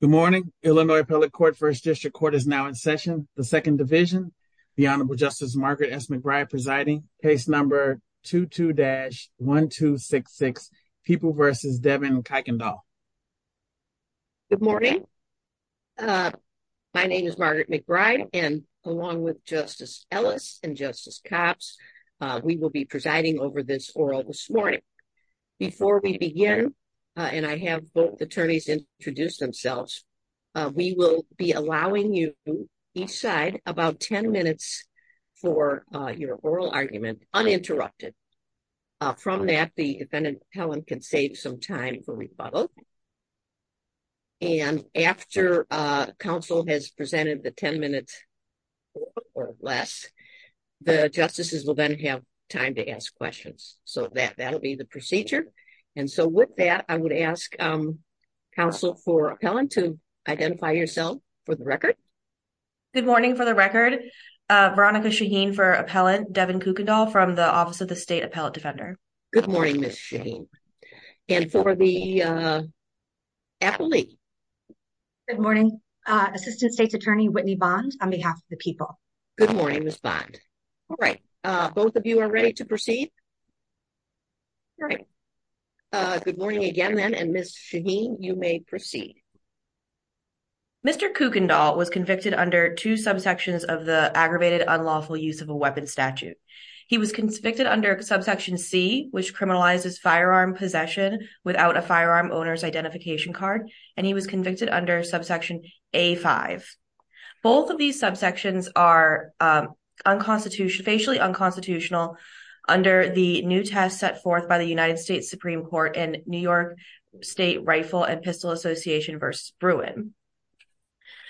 Good morning, Illinois Appellate Court First District Court is now in session. The second division, the Honorable Justice Margaret S. McBride presiding. Case number 22-1266. People versus Devin Kuykendoll. Good morning. My name is Margaret McBride and along with Justice Ellis and Justice Copps, we will be presiding over this oral this morning. Before we begin, and I have both attorneys introduce themselves, we will be allowing you each side about 10 minutes for your oral argument uninterrupted. From that, the defendant, Helen, can save some time for rebuttal. And after counsel has presented the 10 minutes or less, the justices will then have time to ask questions. So that that'll be the procedure. And so with that, I would ask counsel for Helen to identify yourself for the record. Good morning for the record. Veronica Shaheen for appellant Devin Kuykendoll from the Office of the State Appellate Defender. Good morning, Ms. Shaheen. And for the appellee. Good morning. Assistant State's Attorney Whitney Bond on behalf of the people. Good morning, Ms. Bond. All right. Both of you are ready to proceed. Good morning again, then. And Ms. Shaheen, you may proceed. Mr. Kuykendoll was convicted under two subsections of the aggravated unlawful use of a weapon statute. He was convicted under subsection C, which criminalizes firearm possession without a firearm owner's identification card, and he was convicted under subsection A5. Both of these subsections are unconstitutional, facially unconstitutional under the new test set forth by the United States Supreme Court and New York State Rifle and Pistol Association versus Bruin.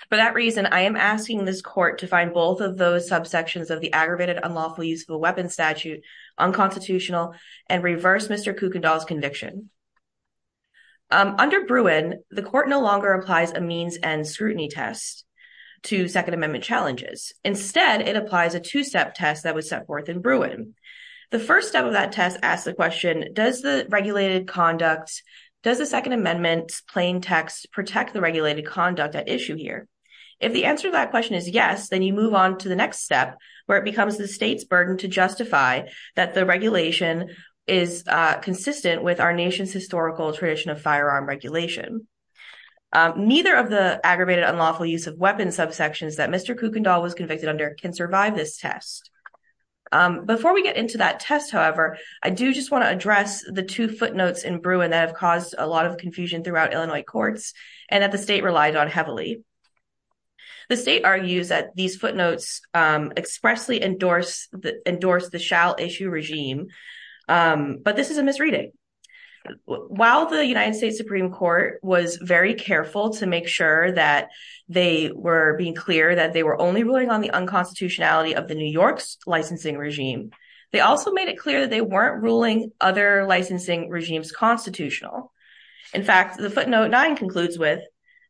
For that reason, I am asking this court to find both of those subsections of the aggravated unlawful use of a weapon statute unconstitutional and reverse Mr. Kuykendoll's conviction. Under Bruin, the court no longer applies a means and scrutiny test to Second Amendment challenges. Instead, it applies a two-step test that was set forth in Bruin. The first step of that test asks the question, does the regulated conduct, does the Second Amendment plain text protect the regulated conduct at issue here? If the answer to that question is yes, then you move on to the next step where it becomes the state's burden to justify that the regulation is consistent with our nation's historical tradition of firearm regulation. Neither of the aggravated unlawful use of weapon subsections that Mr. Kuykendoll was convicted under can survive this test. Before we get into that test, however, I do just want to address the two footnotes in Bruin that have caused a lot of confusion throughout Illinois courts and that the state relies on heavily. The state argues that these footnotes expressly endorse the shall issue regime, but this is a misreading. While the United States Supreme Court was very careful to make sure that they were being clear that they were only ruling on the unconstitutionality of the New York's licensing regime, they also made it clear that they weren't ruling other licensing regimes constitutional. In fact, the footnote 9 concludes with,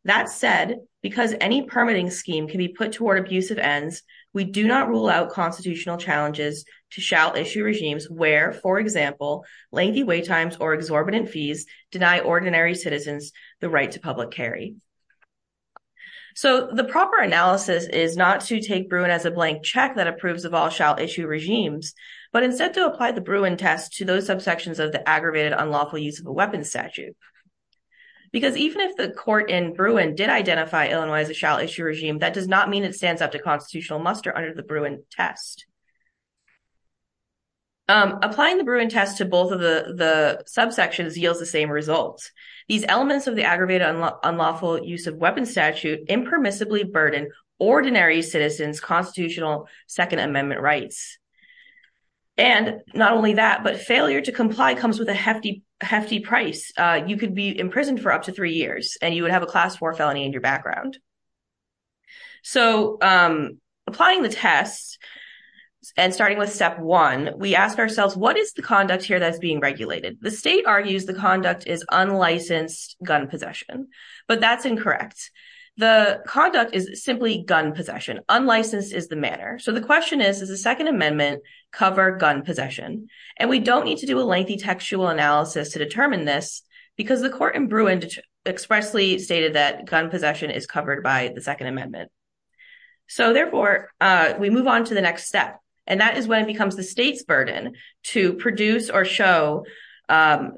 that said, because any permitting scheme can be put toward abusive ends, we do not rule out constitutional challenges to shall issue regimes where, for example, lengthy wait times or exorbitant fees deny ordinary citizens the right to public carry. So the proper analysis is not to take Bruin as a blank check that approves of all shall issue regimes, but instead to apply the Bruin test to those subsections of the aggravated unlawful use of a weapon statute. Because even if the court in Bruin did identify Illinois as a shall issue regime, that does not mean it stands up to constitutional muster under the Bruin test. Applying the Bruin test to both of the subsections yields the same results. These elements of the aggravated unlawful use of weapon statute impermissibly burden ordinary citizens constitutional Second Amendment rights. And not only that, but failure to comply comes with a hefty price. You could be imprisoned for up to three years and you would have a class war felony in your background. So applying the test and starting with step one, we ask ourselves, what is the conduct here that's being regulated? The state argues the conduct is unlicensed gun possession, but that's incorrect. The conduct is simply gun possession. Unlicensed is the manner. So the question is, does the Second Amendment cover gun possession? And we don't need to do a lengthy textual analysis to determine this because the court in Bruin expressly stated that gun possession is covered by the Second Amendment. So therefore, we move on to the next step. And that is when it becomes the state's burden to produce or show that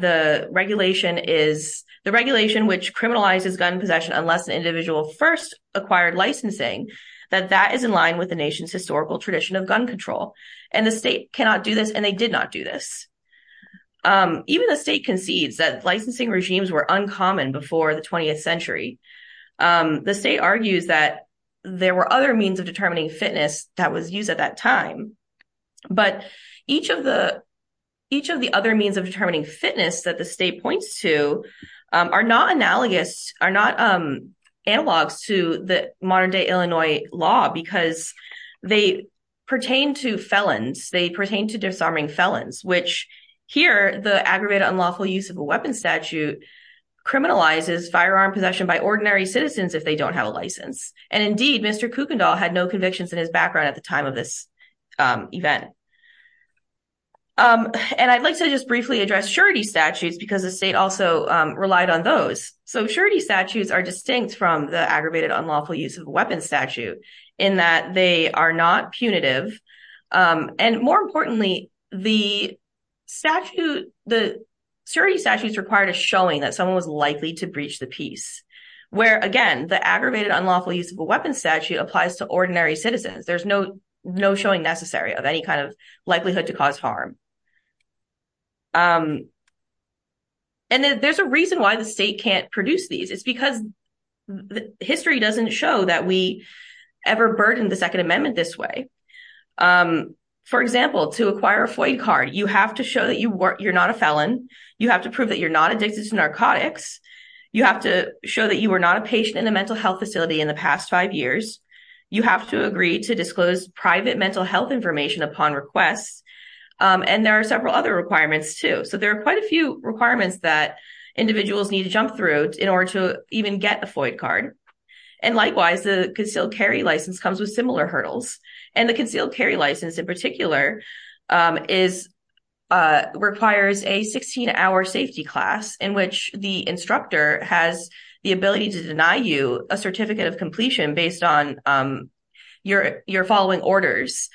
the regulation is the regulation which criminalizes gun possession, unless an individual first acquired licensing, that that is in line with the nation's historical tradition of gun control. And the state cannot do this. And they did not do this. Even the state concedes that licensing regimes were uncommon before the 20th century. The state argues that there were other means of determining fitness that was used at that time. But each of the other means of determining fitness that the state points to are not analogous, are not analogs to the modern day Illinois law because they pertain to felons. They pertain to disarming felons, which here the aggravated unlawful use of a weapon statute criminalizes firearm possession by ordinary citizens if they don't have a license. And indeed, Mr. Kuykendall had no convictions in his background at the time of this event. And I'd like to just briefly address surety statutes because the state also relied on those. So surety statutes are distinct from the aggravated unlawful use of a weapon statute in that they are not punitive. And more importantly, the statute, the surety statutes required a showing that someone was likely to breach the peace where, again, the aggravated unlawful use of a weapon statute applies to ordinary citizens. There's no no showing necessary of any kind of likelihood to cause harm. And there's a reason why the state can't produce these. It's because the history doesn't show that we ever burdened the Second Amendment this way. For example, to acquire a FOIA card, you have to show that you're not a felon. You have to prove that you're not addicted to narcotics. You have to show that you were not a patient in a mental health facility in the past five years. You have to agree to disclose private mental health information upon request. And there are several other requirements, too. So there are quite a few requirements that individuals need to jump through in order to even get a FOIA card. And likewise, the concealed carry license comes with similar hurdles. And the concealed carry license in particular requires a 16-hour safety class in which the instructor has the ability to deny you a certificate of completion based on your following orders.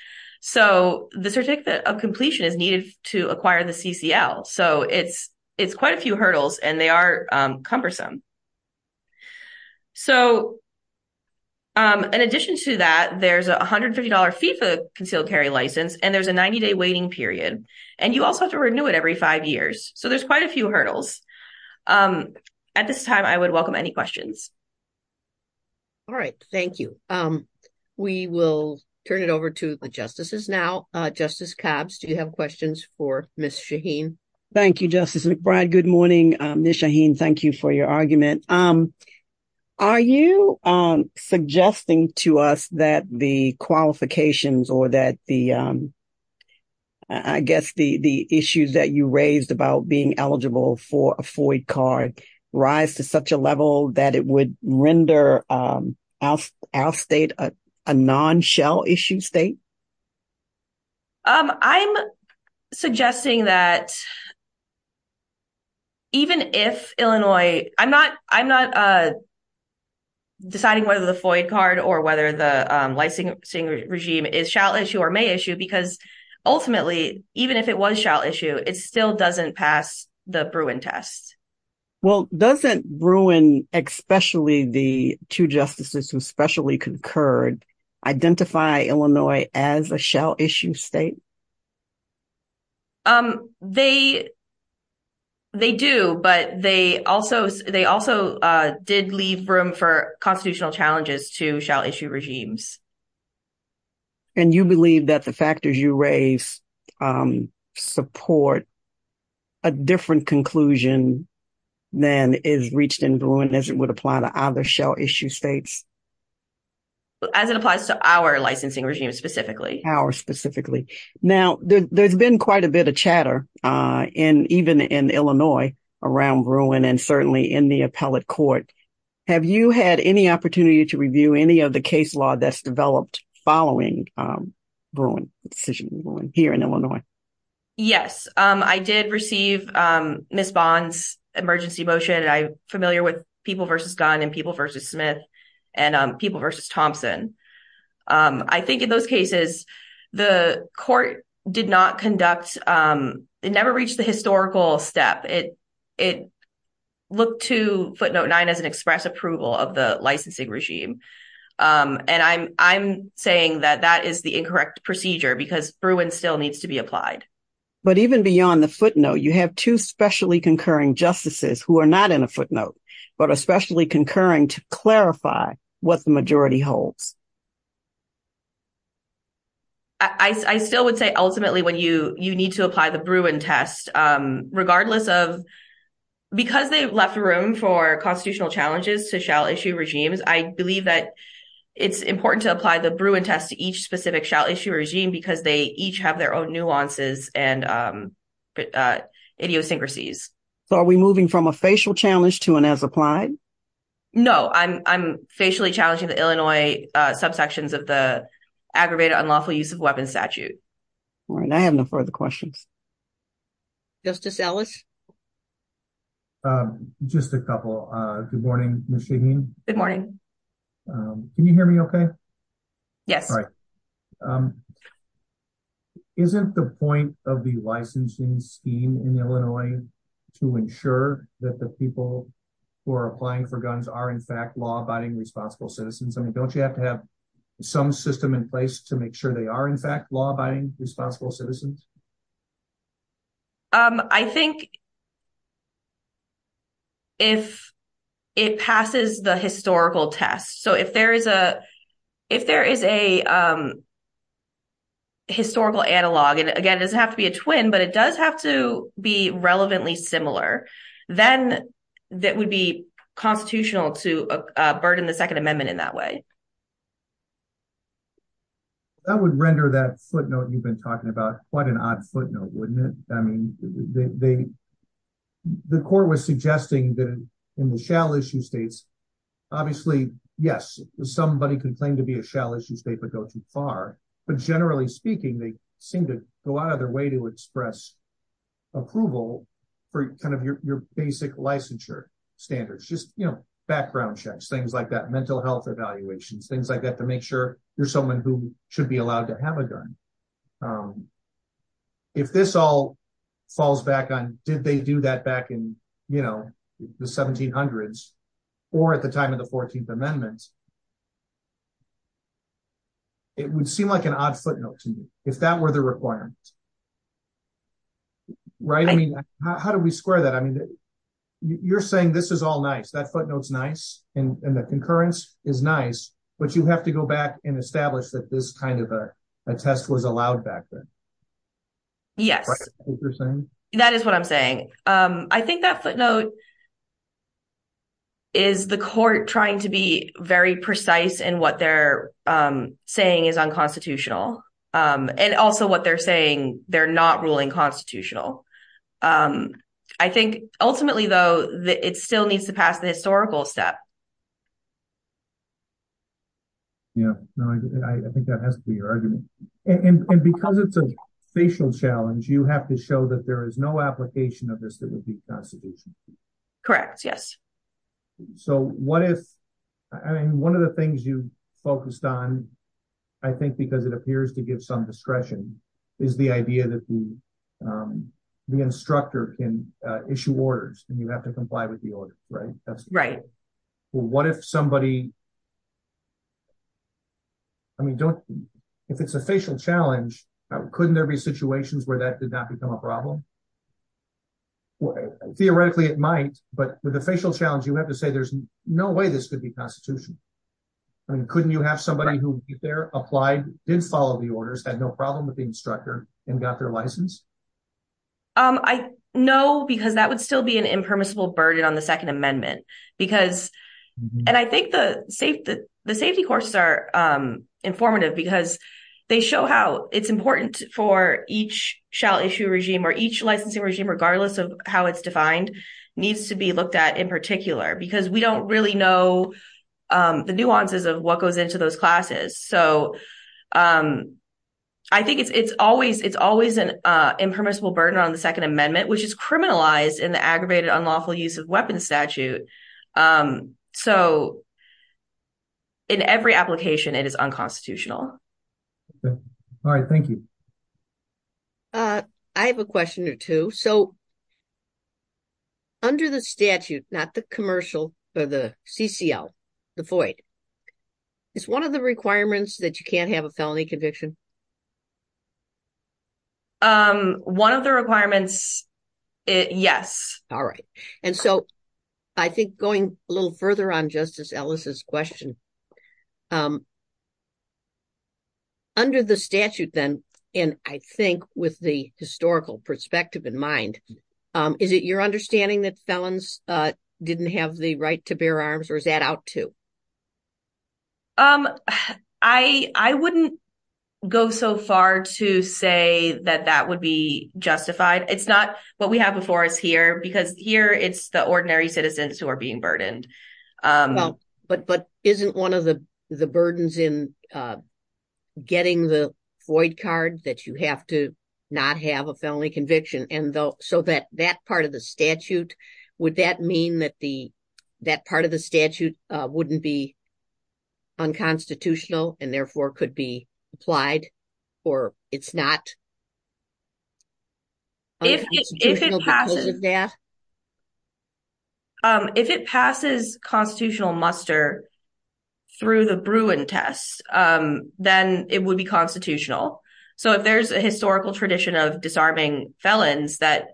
So the certificate of completion is needed to acquire the CCL. So it's quite a few hurdles and they are cumbersome. So in addition to that, there's a $150 FIFA concealed carry license and there's a 90-day waiting period. And you also have to renew it every five years. So there's quite a few hurdles. At this time, I would welcome any questions. All right. Thank you. We will turn it over to the justices now. Justice Cabbs, do you have questions for Ms. Shaheen? Thank you, Justice McBride. Good morning, Ms. Shaheen. Thank you for your argument. Are you suggesting to us that the qualifications or that the, I guess, the issues that you raised about being eligible for a FOIA card rise to such a level that it would render our state a non-shell issue state? I'm suggesting that even if Illinois, I'm not deciding whether the FOIA card or whether the licensing regime is shell issue or may issue because ultimately, even if it was shell issue, it still doesn't pass the Bruin test. Well, doesn't Bruin, especially the two justices who specially concurred, identify Illinois as a shell issue state? They do, but they also did leave room for constitutional challenges to shell issue regimes. And you believe that the factors you raised support a different conclusion than is reached in Bruin as it would apply to other shell issue states? As it applies to our licensing regime specifically. Now, there's been quite a bit of chatter in even in Illinois around Bruin and certainly in the appellate court. Have you had any opportunity to review any of the case law that's developed following Bruin decision here in Illinois? Yes, I did receive Ms. Bond's emergency motion. I'm familiar with People v. Gunn and People v. Smith and People v. Thompson. I think in those cases, the court did not conduct, it never reached the historical step. It looked to footnote nine as an express approval of the licensing regime. And I'm saying that that is the incorrect procedure because Bruin still needs to be applied. But even beyond the footnote, you have two specially concurring justices who are not in a footnote, but especially concurring to clarify what the majority holds. I still would say ultimately when you need to apply the Bruin test, regardless of, because they left room for constitutional challenges to shell issue regimes, I believe that it's important to apply the Bruin test to each specific shell issue regime because they each have their own nuances and idiosyncrasies. So are we moving from a facial challenge to an as applied? No, I'm facially challenging the Illinois subsections of the aggravated unlawful use of weapons statute. All right, I have no further questions. Justice Ellis? Just a couple. Good morning, Ms. Shaheen. Can you hear me okay? Yes. Isn't the point of the licensing scheme in Illinois to ensure that the people who are applying for guns are in fact law abiding responsible citizens? I mean, don't you have to have some system in place to make sure they are in fact law abiding responsible citizens? I think if it passes the historical test, so if there is a historical analog, and again, it doesn't have to be a twin, but it does have to be relevantly similar, then that would be constitutional to burden the Second Amendment in that way. That would render that footnote you've been talking about quite an odd footnote, wouldn't it? I mean, the court was suggesting that in the shell issue states, obviously, yes, somebody could claim to be a shell issue state but go too far. But generally speaking, they seem to go out of their way to express approval for kind of your basic licensure standards. Just background checks, things like that, mental health evaluations, things like that to make sure you're someone who should be allowed to have a gun. If this all falls back on did they do that back in the 1700s or at the time of the 14th Amendment, it would seem like an odd footnote to me if that were the requirement. Right. I mean, how do we square that? I mean, you're saying this is all nice, that footnotes nice, and the concurrence is nice, but you have to go back and establish that this kind of a test was allowed back then. Yes, that is what I'm saying. I think that footnote is the court trying to be very precise in what they're saying is unconstitutional and also what they're saying they're not ruling constitutional. I think ultimately, though, it still needs to pass the historical step. Yeah, I think that has to be your argument. And because it's a facial challenge, you have to show that there is no application of this that would be constitutional. Correct, yes. So what if, I mean, one of the things you focused on, I think because it appears to give some discretion, is the idea that the instructor can issue orders and you have to comply with the order, right? Right. Well, what if somebody, I mean, if it's a facial challenge, couldn't there be situations where that did not become a problem? Theoretically, it might, but with a facial challenge, you have to say there's no way this could be constitutional. I mean, couldn't you have somebody who applied, did follow the orders, had no problem with the instructor, and got their license? No, because that would still be an impermissible burden on the Second Amendment. And I think the safety courses are informative because they show how it's important for each shall issue regime or each licensing regime, regardless of how it's defined, needs to be looked at in particular, because we don't really know the nuances of what goes into those classes. So I think it's always an impermissible burden on the Second Amendment, which is criminalized in the aggravated unlawful use of weapons statute. So in every application, it is unconstitutional. All right, thank you. I have a question or two. So, under the statute, not the commercial or the CCL, the void, is one of the requirements that you can't have a felony conviction? One of the requirements, yes. All right. And so I think going a little further on Justice Ellis's question, under the statute then, and I think with the historical perspective in mind, is it your understanding that felons didn't have the right to bear arms or is that out too? I wouldn't go so far to say that that would be justified. It's not what we have before us here, because here it's the ordinary citizens who are being burdened. But isn't one of the burdens in getting the void card that you have to not have a felony conviction? And so that part of the statute, would that mean that part of the statute wouldn't be unconstitutional and therefore could be applied or it's not unconstitutional because of that? If it passes constitutional muster through the Bruin test, then it would be constitutional. So, if there's a historical tradition of disarming felons that...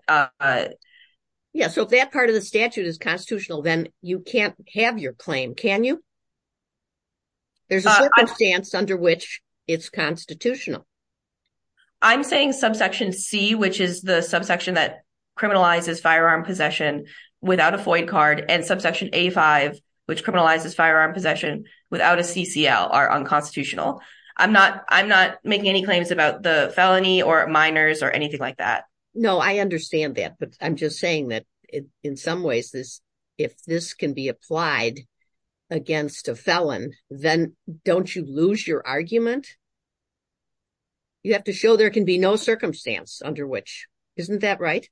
Yeah, so if that part of the statute is constitutional, then you can't have your claim, can you? There's a circumstance under which it's constitutional. I'm saying subsection C, which is the subsection that criminalizes firearm possession without a void card and subsection A5, which criminalizes firearm possession without a CCL are unconstitutional. I'm not making any claims about the felony or minors or anything like that. No, I understand that. But I'm just saying that in some ways, if this can be applied against a felon, then don't you lose your argument? You have to show there can be no circumstance under which. Isn't that right?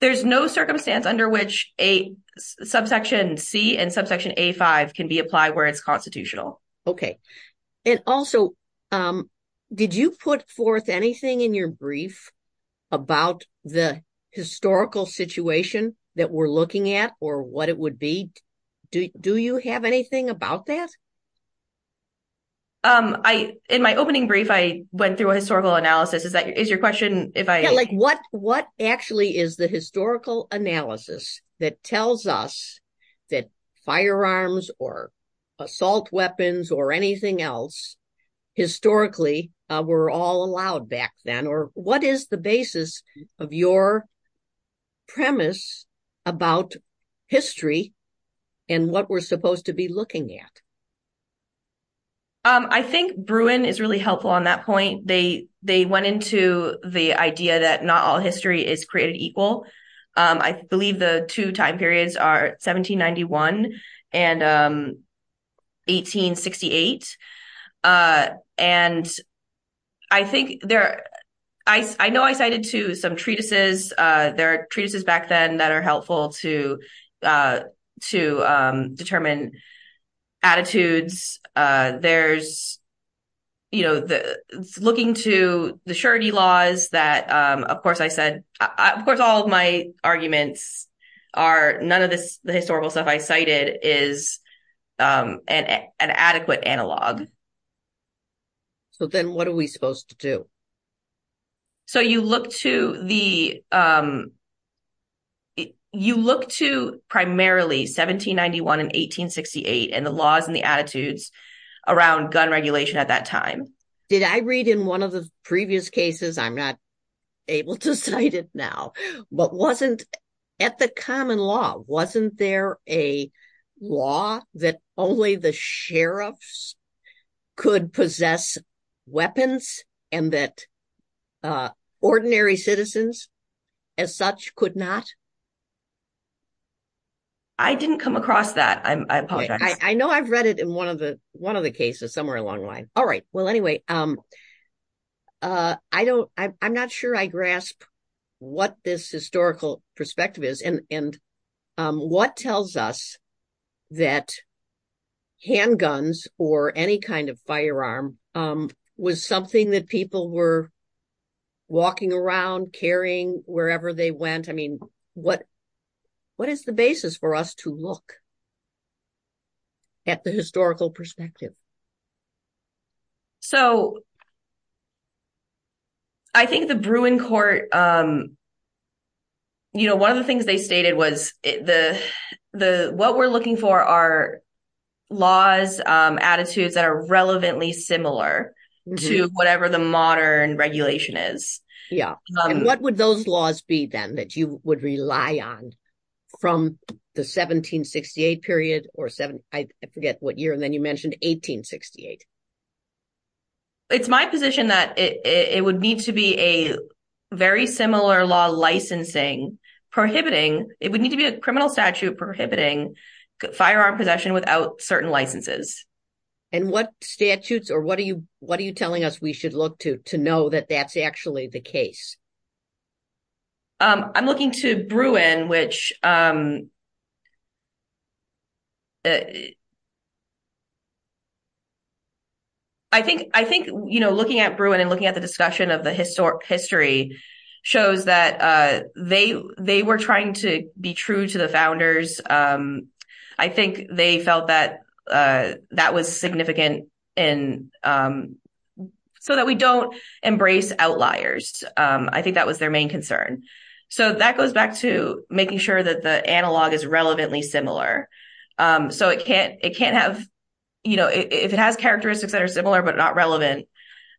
There's no circumstance under which a subsection C and subsection A5 can be applied where it's constitutional. Okay. And also, did you put forth anything in your brief about the historical situation that we're looking at or what it would be? Do you have anything about that? In my opening brief, I went through a historical analysis. Is your question if I... What actually is the historical analysis that tells us that firearms or assault weapons or anything else historically were all allowed back then? Or what is the basis of your premise about history and what we're supposed to be looking at? I think Bruin is really helpful on that point. They went into the idea that not all history is created equal. I believe the two time periods are 1791 and 1868. And I think there... I know I cited to some treatises. There are treatises back then that are helpful to determine attitudes. There's, you know, looking to the surety laws that, of course, I said, of course, all of my arguments are none of the historical stuff I cited is an adequate analog. So then what are we supposed to do? So you look to the... You look to primarily 1791 and 1868 and the laws and the attitudes around gun regulation at that time. Did I read in one of the previous cases, I'm not able to cite it now, but wasn't at the common law, wasn't there a law that only the sheriffs could possess weapons and that ordinary citizens as such could not? I didn't come across that. I apologize. I know I've read it in one of the cases somewhere along the line. All right. Well, anyway, I'm not sure I grasp what this historical perspective is and what tells us that handguns or any kind of firearm was something that people were walking around carrying wherever they went. I mean, what is the basis for us to look at the historical perspective? So I think the Bruin Court, you know, one of the things they stated was what we're looking for are laws, attitudes that are relevantly similar to whatever the modern regulation is. Yeah. And what would those laws be then that you would rely on from the 1768 period or seven? I forget what year. And then you mentioned 1868. It's my position that it would need to be a very similar law licensing prohibiting. It would need to be a criminal statute prohibiting firearm possession without certain licenses. And what statutes or what are you what are you telling us we should look to to know that that's actually the case? I'm looking to Bruin, which. I think I think, you know, looking at Bruin and looking at the discussion of the historic history shows that they they were trying to be true to the founders. I think they felt that that was significant in so that we don't embrace outliers. I think that was their main concern. So that goes back to making sure that the analog is relevantly similar. So it can't it can't have, you know, if it has characteristics that are similar, but not relevant,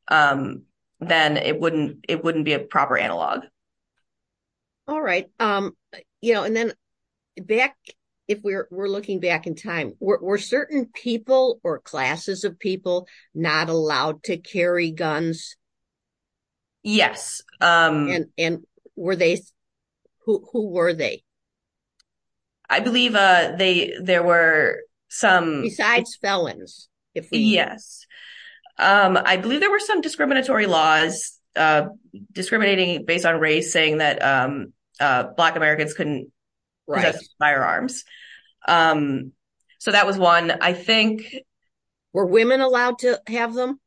then it wouldn't it wouldn't be a proper analog. All right. You know, and then back if we're looking back in time, were certain people or classes of people not allowed to carry guns? Yes. And were they who were they? I believe they there were some besides felons. Yes, I believe there were some discriminatory laws discriminating based on race, saying that black Americans couldn't buy firearms. So that was one, I think, were women allowed to have them?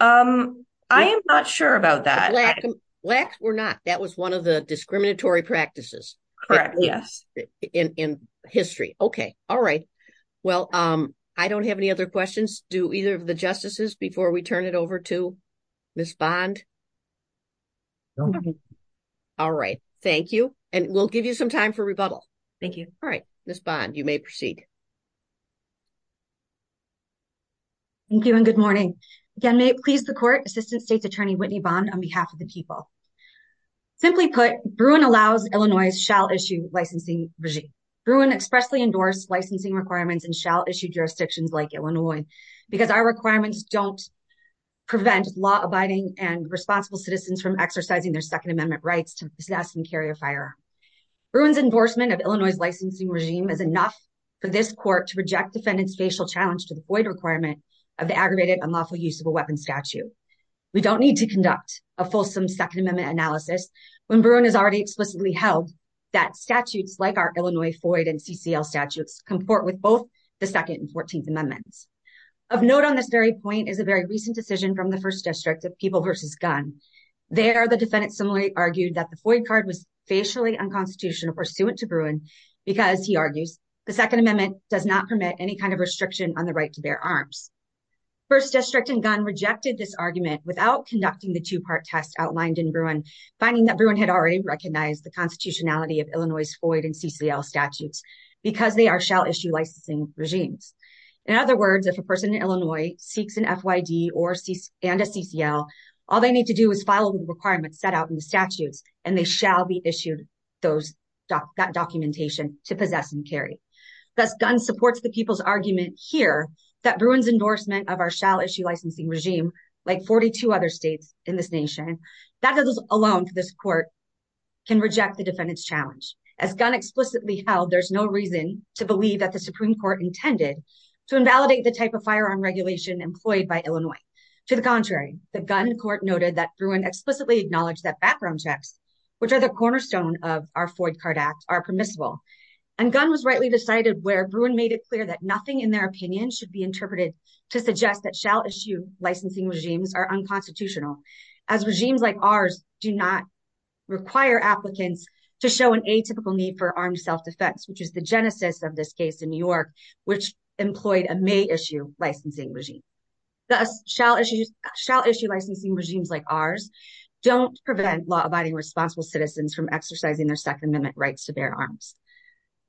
I am not sure about that. Blacks were not. That was one of the discriminatory practices. Correct. Yes. In history. Okay. All right. Well, I don't have any other questions. Do either of the justices before we turn it over to Ms. Bond? All right. Thank you. And we'll give you some time for rebuttal. Thank you. All right. Ms. Bond, you may proceed. Thank you. And good morning. Again, may it please the court, Assistant State's Attorney Whitney Bond on behalf of the people. Simply put, Bruin allows Illinois shall issue licensing regime. Bruin expressly endorsed licensing requirements and shall issue jurisdictions like Illinois. Because our requirements don't prevent law abiding and responsible citizens from exercising their Second Amendment rights to possess and carry a fire. Bruin's endorsement of Illinois licensing regime is enough for this court to reject defendants' facial challenge to the FOID requirement of the aggravated unlawful use of a weapon statute. We don't need to conduct a fulsome Second Amendment analysis when Bruin has already explicitly held that statutes like our Illinois FOID and CCL statutes comport with both the Second and Fourteenth Amendments. Of note on this very point is a very recent decision from the First District of People v. Gunn. There, the defendant similarly argued that the FOID card was facially unconstitutional pursuant to Bruin because, he argues, the Second Amendment does not permit any kind of restriction on the right to bear arms. First District and Gunn rejected this argument without conducting the two-part test outlined in Bruin, finding that Bruin had already recognized the constitutionality of Illinois' FOID and CCL statutes because they are shall issue licensing regimes. In other words, if a person in Illinois seeks an FOID and a CCL, all they need to do is follow the requirements set out in the statutes and they shall be issued that documentation to possess and carry. Thus, Gunn supports the people's argument here that Bruin's endorsement of our shall issue licensing regime, like 42 other states in this nation, that alone for this court can reject the defendant's challenge. As Gunn explicitly held, there's no reason to believe that the Supreme Court intended to invalidate the type of firearm regulation employed by Illinois. To the contrary, the Gunn court noted that Bruin explicitly acknowledged that background checks, which are the cornerstone of our FOID card act, are permissible. And Gunn was rightly decided where Bruin made it clear that nothing in their opinion should be interpreted to suggest that shall issue licensing regimes are unconstitutional. As regimes like ours do not require applicants to show an atypical need for armed self-defense, which is the genesis of this case in New York, which employed a may issue licensing regime. Thus, shall issue licensing regimes like ours don't prevent law-abiding responsible citizens from exercising their Second Amendment rights to bear arms.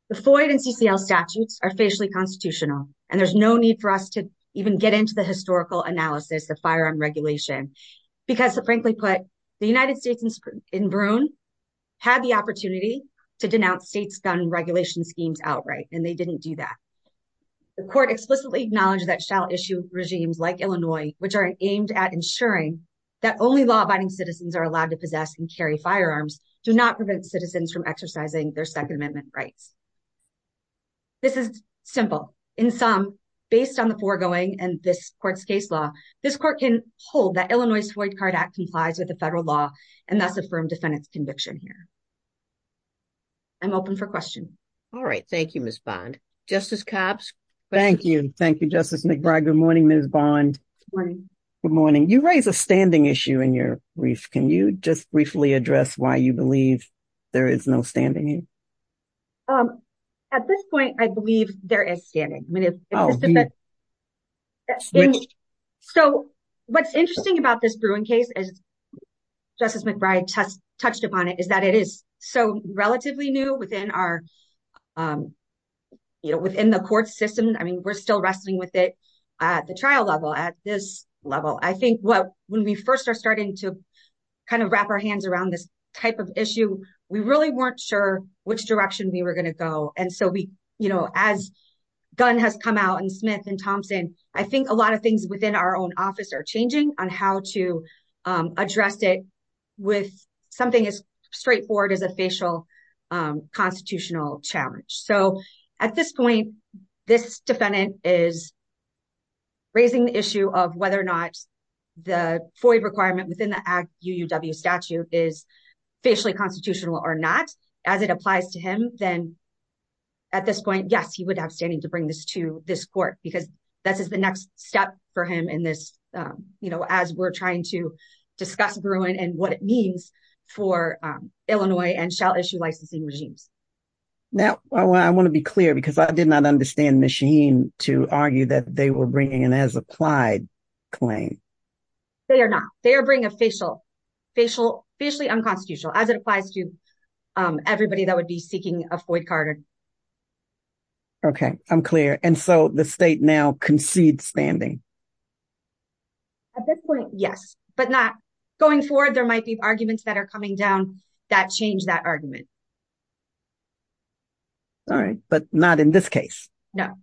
The FOID and CCL statutes are facially constitutional, and there's no need for us to even get into the historical analysis of firearm regulation. Because, frankly put, the United States in Bruin had the opportunity to denounce states' gun regulation schemes outright, and they didn't do that. The court explicitly acknowledged that shall issue regimes like Illinois, which are aimed at ensuring that only law-abiding citizens are allowed to possess and carry firearms, do not prevent citizens from exercising their Second Amendment rights. This is simple. In sum, based on the foregoing and this court's case law, this court can hold that Illinois' FOID card act complies with the federal law and thus affirm defendant's conviction here. I'm open for questions. All right. Thank you, Ms. Bond. Justice Cobbs? Thank you. Thank you, Justice McBride. Good morning, Ms. Bond. Good morning. You raise a standing issue in your brief. Can you just briefly address why you believe there is no standing? At this point, I believe there is standing. So, what's interesting about this Bruin case, as Justice McBride touched upon it, is that it is so relatively new within the court system. I mean, we're still wrestling with it at the trial level, at this level. I think when we first are starting to kind of wrap our hands around this type of issue, we really weren't sure which direction we were going to go. And so, as Gunn has come out and Smith and Thompson, I think a lot of things within our own office are changing on how to address it with something as straightforward as a facial constitutional challenge. So, at this point, this defendant is raising the issue of whether or not the FOIA requirement within the UUW statute is facially constitutional or not. As it applies to him, then at this point, yes, he would have standing to bring this to this court, because this is the next step for him in this, you know, as we're trying to discuss Bruin and what it means for Illinois and shall issue licensing regimes. Now, I want to be clear, because I did not understand Ms. Shaheen to argue that they were bringing an as-applied claim. They are not. They are bringing a facial, facially unconstitutional, as it applies to everybody that would be seeking a FOIA card. Okay, I'm clear. And so, the state now concedes standing? At this point, yes, but not going forward. There might be arguments that are coming down that change that argument. All right, but not in this case? No.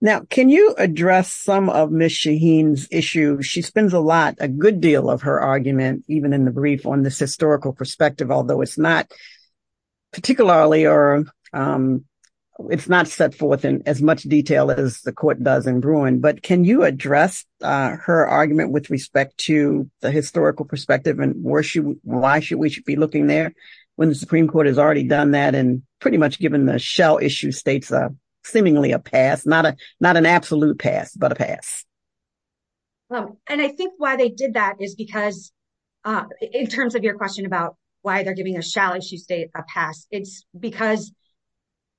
Now, can you address some of Ms. Shaheen's issues? She spends a lot, a good deal of her argument, even in the brief, on this historical perspective, although it's not particularly or it's not set forth in as much detail as the court does in Bruin. But can you address her argument with respect to the historical perspective and why should we be looking there when the Supreme Court has already done that and pretty much given the shall issue states seemingly a pass, not an absolute pass, but a pass? And I think why they did that is because, in terms of your question about why they're giving a shall issue state a pass, it's because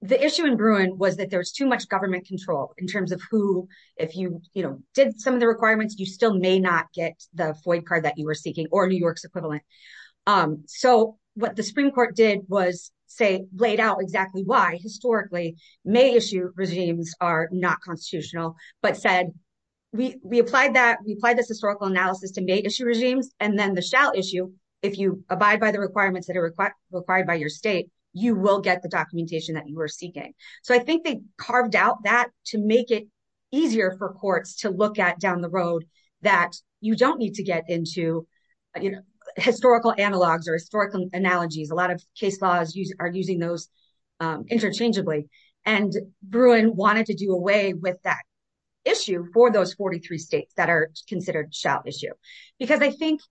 the issue in Bruin was that there was too much government control in terms of who, if you did some of the requirements, you still may not get the FOIA card that you were seeking or New York's equivalent. So what the Supreme Court did was, say, laid out exactly why, historically, may issue regimes are not constitutional, but said, we applied this historical analysis to may issue regimes, and then the shall issue, if you abide by the requirements that are required by your state, you will get the documentation that you were seeking. So I think they carved out that to make it easier for courts to look at down the road that you don't need to get into historical analogs or historical analogies. A lot of case laws are using those interchangeably. And Bruin wanted to do away with that issue for those 43 states that are considered shall issue. Because I think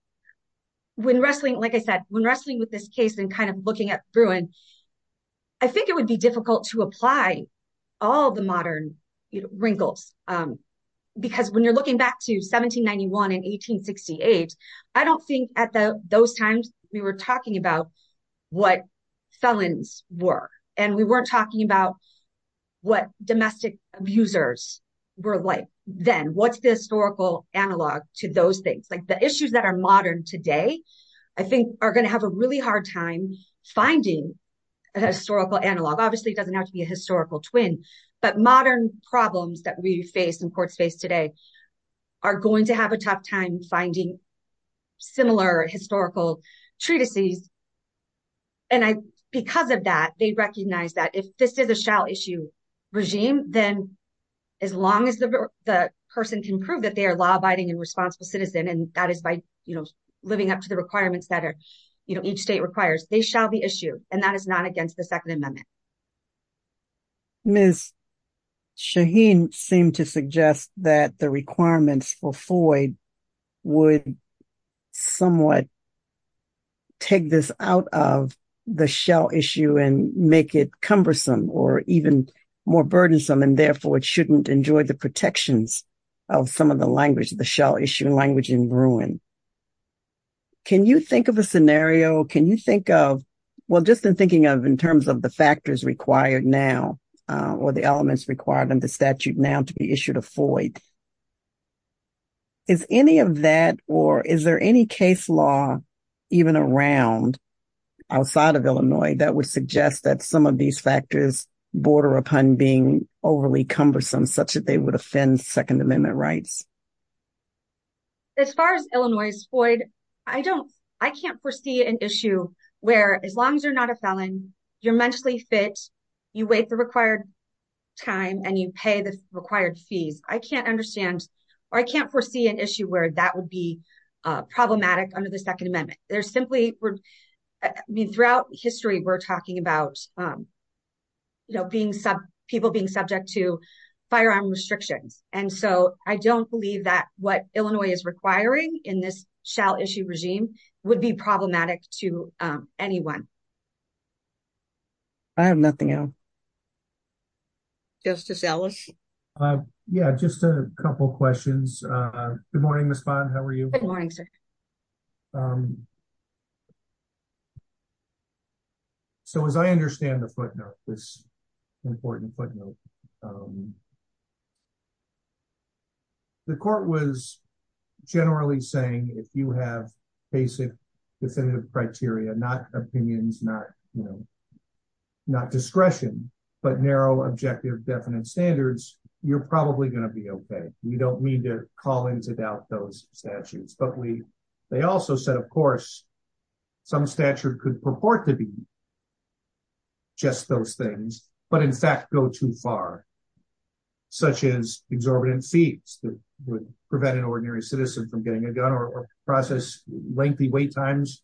when wrestling, like I said, when wrestling with this case and kind of looking at Bruin, I think it would be difficult to apply all the modern wrinkles. Because when you're looking back to 1791 and 1868, I don't think at those times, we were talking about what felons were, and we weren't talking about what domestic abusers were like then. What's the historical analog to those things? Like the issues that are modern today, I think, are going to have a really hard time finding a historical analog. Obviously, it doesn't have to be a historical twin, but modern problems that we face and courts face today are going to have a tough time finding similar historical treatises. And because of that, they recognize that if this is a shall issue regime, then as long as the person can prove that they are law-abiding and responsible citizen, and that is by living up to the requirements that each state requires, they shall be issued. And that is not against the Second Amendment. Ms. Shaheen seemed to suggest that the requirements for Floyd would somewhat take this out of the shall issue and make it cumbersome or even more burdensome, and therefore it shouldn't enjoy the protections of some of the language, the shall issue language in Bruin. Can you think of a scenario, can you think of, well, just in thinking of in terms of the factors required now or the elements required in the statute now to be issued a Floyd? Is any of that or is there any case law even around outside of Illinois that would suggest that some of these factors border upon being overly cumbersome such that they would offend Second Amendment rights? As far as Illinois' Floyd, I don't, I can't foresee an issue where as long as you're not a felon, you're mentally fit, you wait the required time and you pay the required fees. I can't understand, or I can't foresee an issue where that would be problematic under the Second Amendment. There's simply, I mean, throughout history, we're talking about, you know, people being subject to firearm restrictions. And so I don't believe that what Illinois is requiring in this shall issue regime would be problematic to anyone. I have nothing else. Justice Ellis? Yeah, just a couple questions. Good morning, Ms. Vaughn, how are you? Good morning, sir. So as I understand the footnote, this important footnote, the court was generally saying if you have basic definitive criteria, not opinions, not, you know, not discretion, but narrow objective definite standards, you're probably going to be okay. We don't mean to call into doubt those statutes, but we, they also said, of course, some statute could purport to be just those things, but in fact go too far. Such as exorbitant fees that would prevent an ordinary citizen from getting a gun or process lengthy wait times,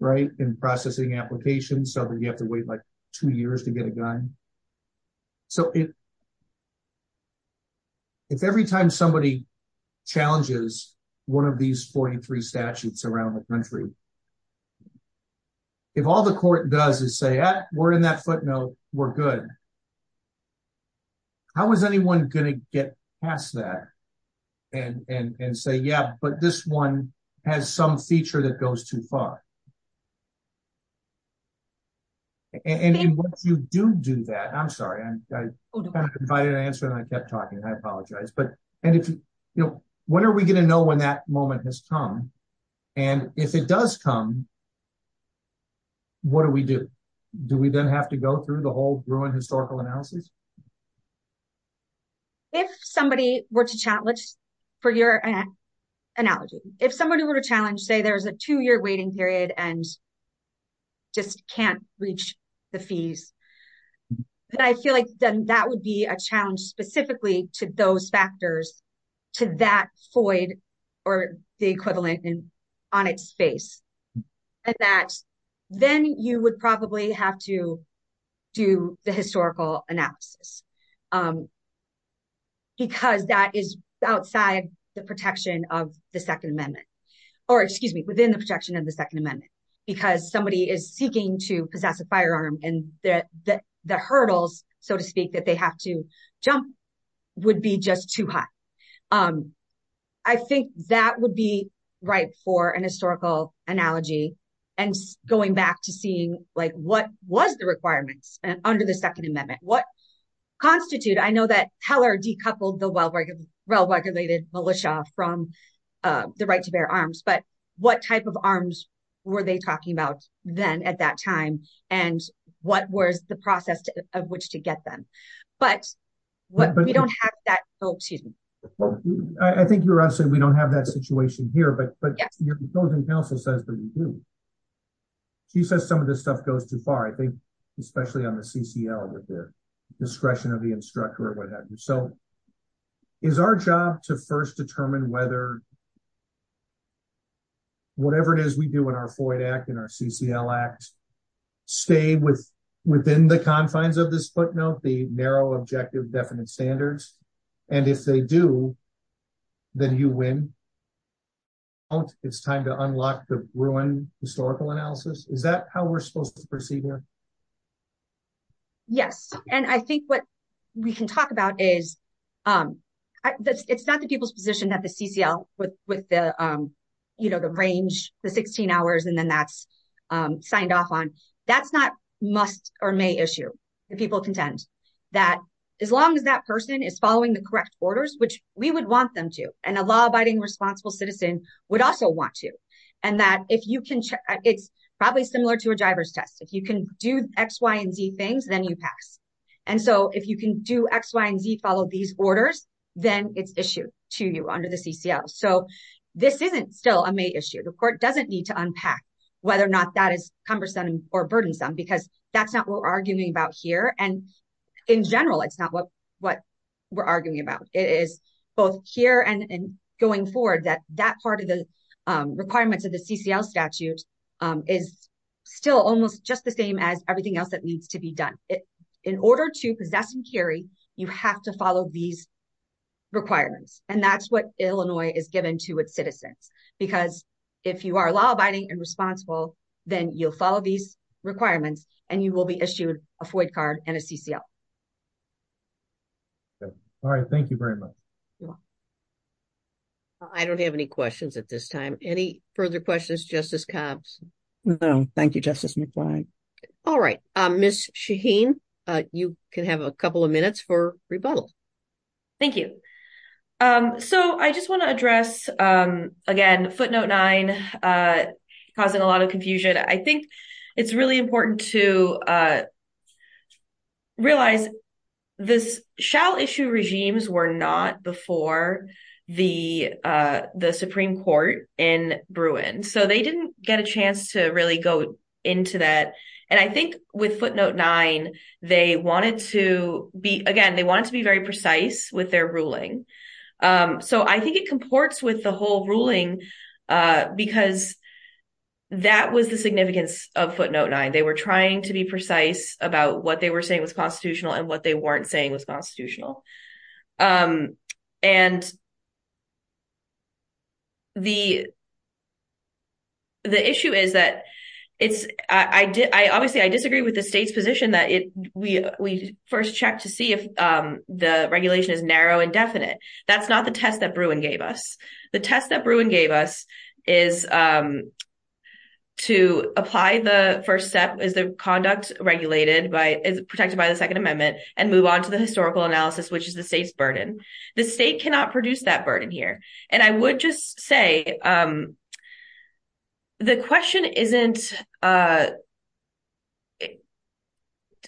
right, in processing applications so that you have to wait like two years to get a gun. So if every time somebody challenges one of these 43 statutes around the country, if all the court does is say, we're in that footnote, we're good. How is anyone going to get past that and say, yeah, but this one has some feature that goes too far? And once you do do that, I'm sorry, I kind of invited an answer and I kept talking, I apologize, but, and if, you know, when are we going to know when that moment has come? And if it does come, what do we do? Do we then have to go through the whole Bruin historical analysis? If somebody were to challenge for your analogy, if somebody were to challenge, say there's a two year waiting period and just can't reach the fees. But I feel like that would be a challenge specifically to those factors to that Floyd or the equivalent and on its face. And that then you would probably have to do the historical analysis. Because that is outside the protection of the Second Amendment, or excuse me, within the protection of the Second Amendment, because somebody is seeking to possess a firearm and that the hurdles, so to speak, that they have to jump would be just too high. I think that would be right for an historical analogy and going back to seeing like what was the requirements under the Second Amendment, what constitute, I know that Heller decoupled the well regulated militia from the right to bear arms. But what type of arms were they talking about then at that time? And what was the process of which to get them? But what we don't have that. Oh, excuse me. I think you're asking, we don't have that situation here, but your consultant counsel says that we do. She says some of this stuff goes too far, I think, especially on the CCL with the discretion of the instructor or what have you. So is our job to first determine whether whatever it is we do in our FOIA Act and our CCL Act, stay within the confines of this footnote, the narrow objective definite standards. And if they do, then you win. It's time to unlock the ruin historical analysis. Is that how we're supposed to proceed here? Yes, and I think what we can talk about is that it's not the people's position that the CCL with the range, the 16 hours, and then that's signed off on. That's not must or may issue. People contend that as long as that person is following the correct orders, which we would want them to, and a law abiding responsible citizen would also want to, and that if you can check, it's probably similar to a driver's test. If you can do X, Y, and Z things, then you pass. And so if you can do X, Y, and Z, follow these orders, then it's issued to you under the CCL. So this isn't still a may issue. The court doesn't need to unpack whether or not that is cumbersome or burdensome because that's not what we're arguing about here. And in general, it's not what we're arguing about. It is both here and going forward that that part of the requirements of the CCL statute is still almost just the same as everything else that needs to be done. In order to possess and carry, you have to follow these requirements, and that's what Illinois is given to its citizens. Because if you are law abiding and responsible, then you'll follow these requirements and you will be issued a FOID card and a CCL. All right. Thank you very much. I don't have any questions at this time. Any further questions, Justice Cobbs? No. Thank you, Justice McFly. All right. Ms. Shaheen, you can have a couple of minutes for rebuttal. Thank you. So I just want to address, again, footnote nine, causing a lot of confusion. I think it's really important to realize this shall issue regimes were not before the Supreme Court in Bruin. So they didn't get a chance to really go into that. And I think with footnote nine, they wanted to be, again, they wanted to be very precise with their ruling. So I think it comports with the whole ruling because that was the significance of footnote nine. They were trying to be precise about what they were saying was constitutional and what they weren't saying was constitutional. And the issue is that it's I obviously I disagree with the state's position that we first check to see if the regulation is narrow and definite. That's not the test that Bruin gave us. The test that Bruin gave us is to apply the first step is the conduct regulated by is protected by the Second Amendment and move on to the historical analysis, which is the state's burden. The state cannot produce that burden here. And I would just say the question isn't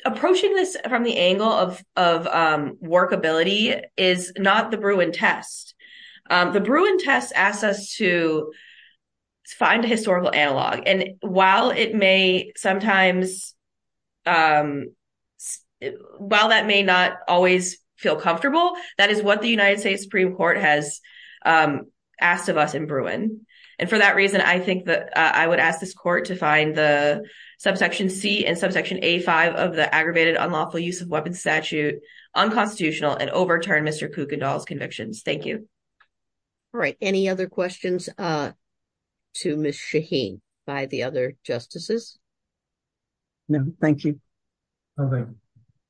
approaching this from the angle of workability is not the Bruin test. The Bruin test asks us to find a historical analog. And while it may sometimes while that may not always feel comfortable, that is what the United States Supreme Court has asked of us in Bruin. And for that reason, I think that I would ask this court to find the subsection C and subsection A5 of the aggravated unlawful use of weapons statute unconstitutional and overturn Mr. Kuykendall's convictions. Thank you. All right. Any other questions to Ms. Shaheen by the other justices? No, thank you. All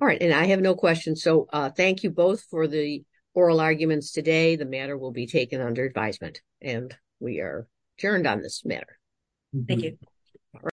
right. And I have no questions. So thank you both for the oral arguments today. The matter will be taken under advisement and we are adjourned on this matter. Thank you. All right.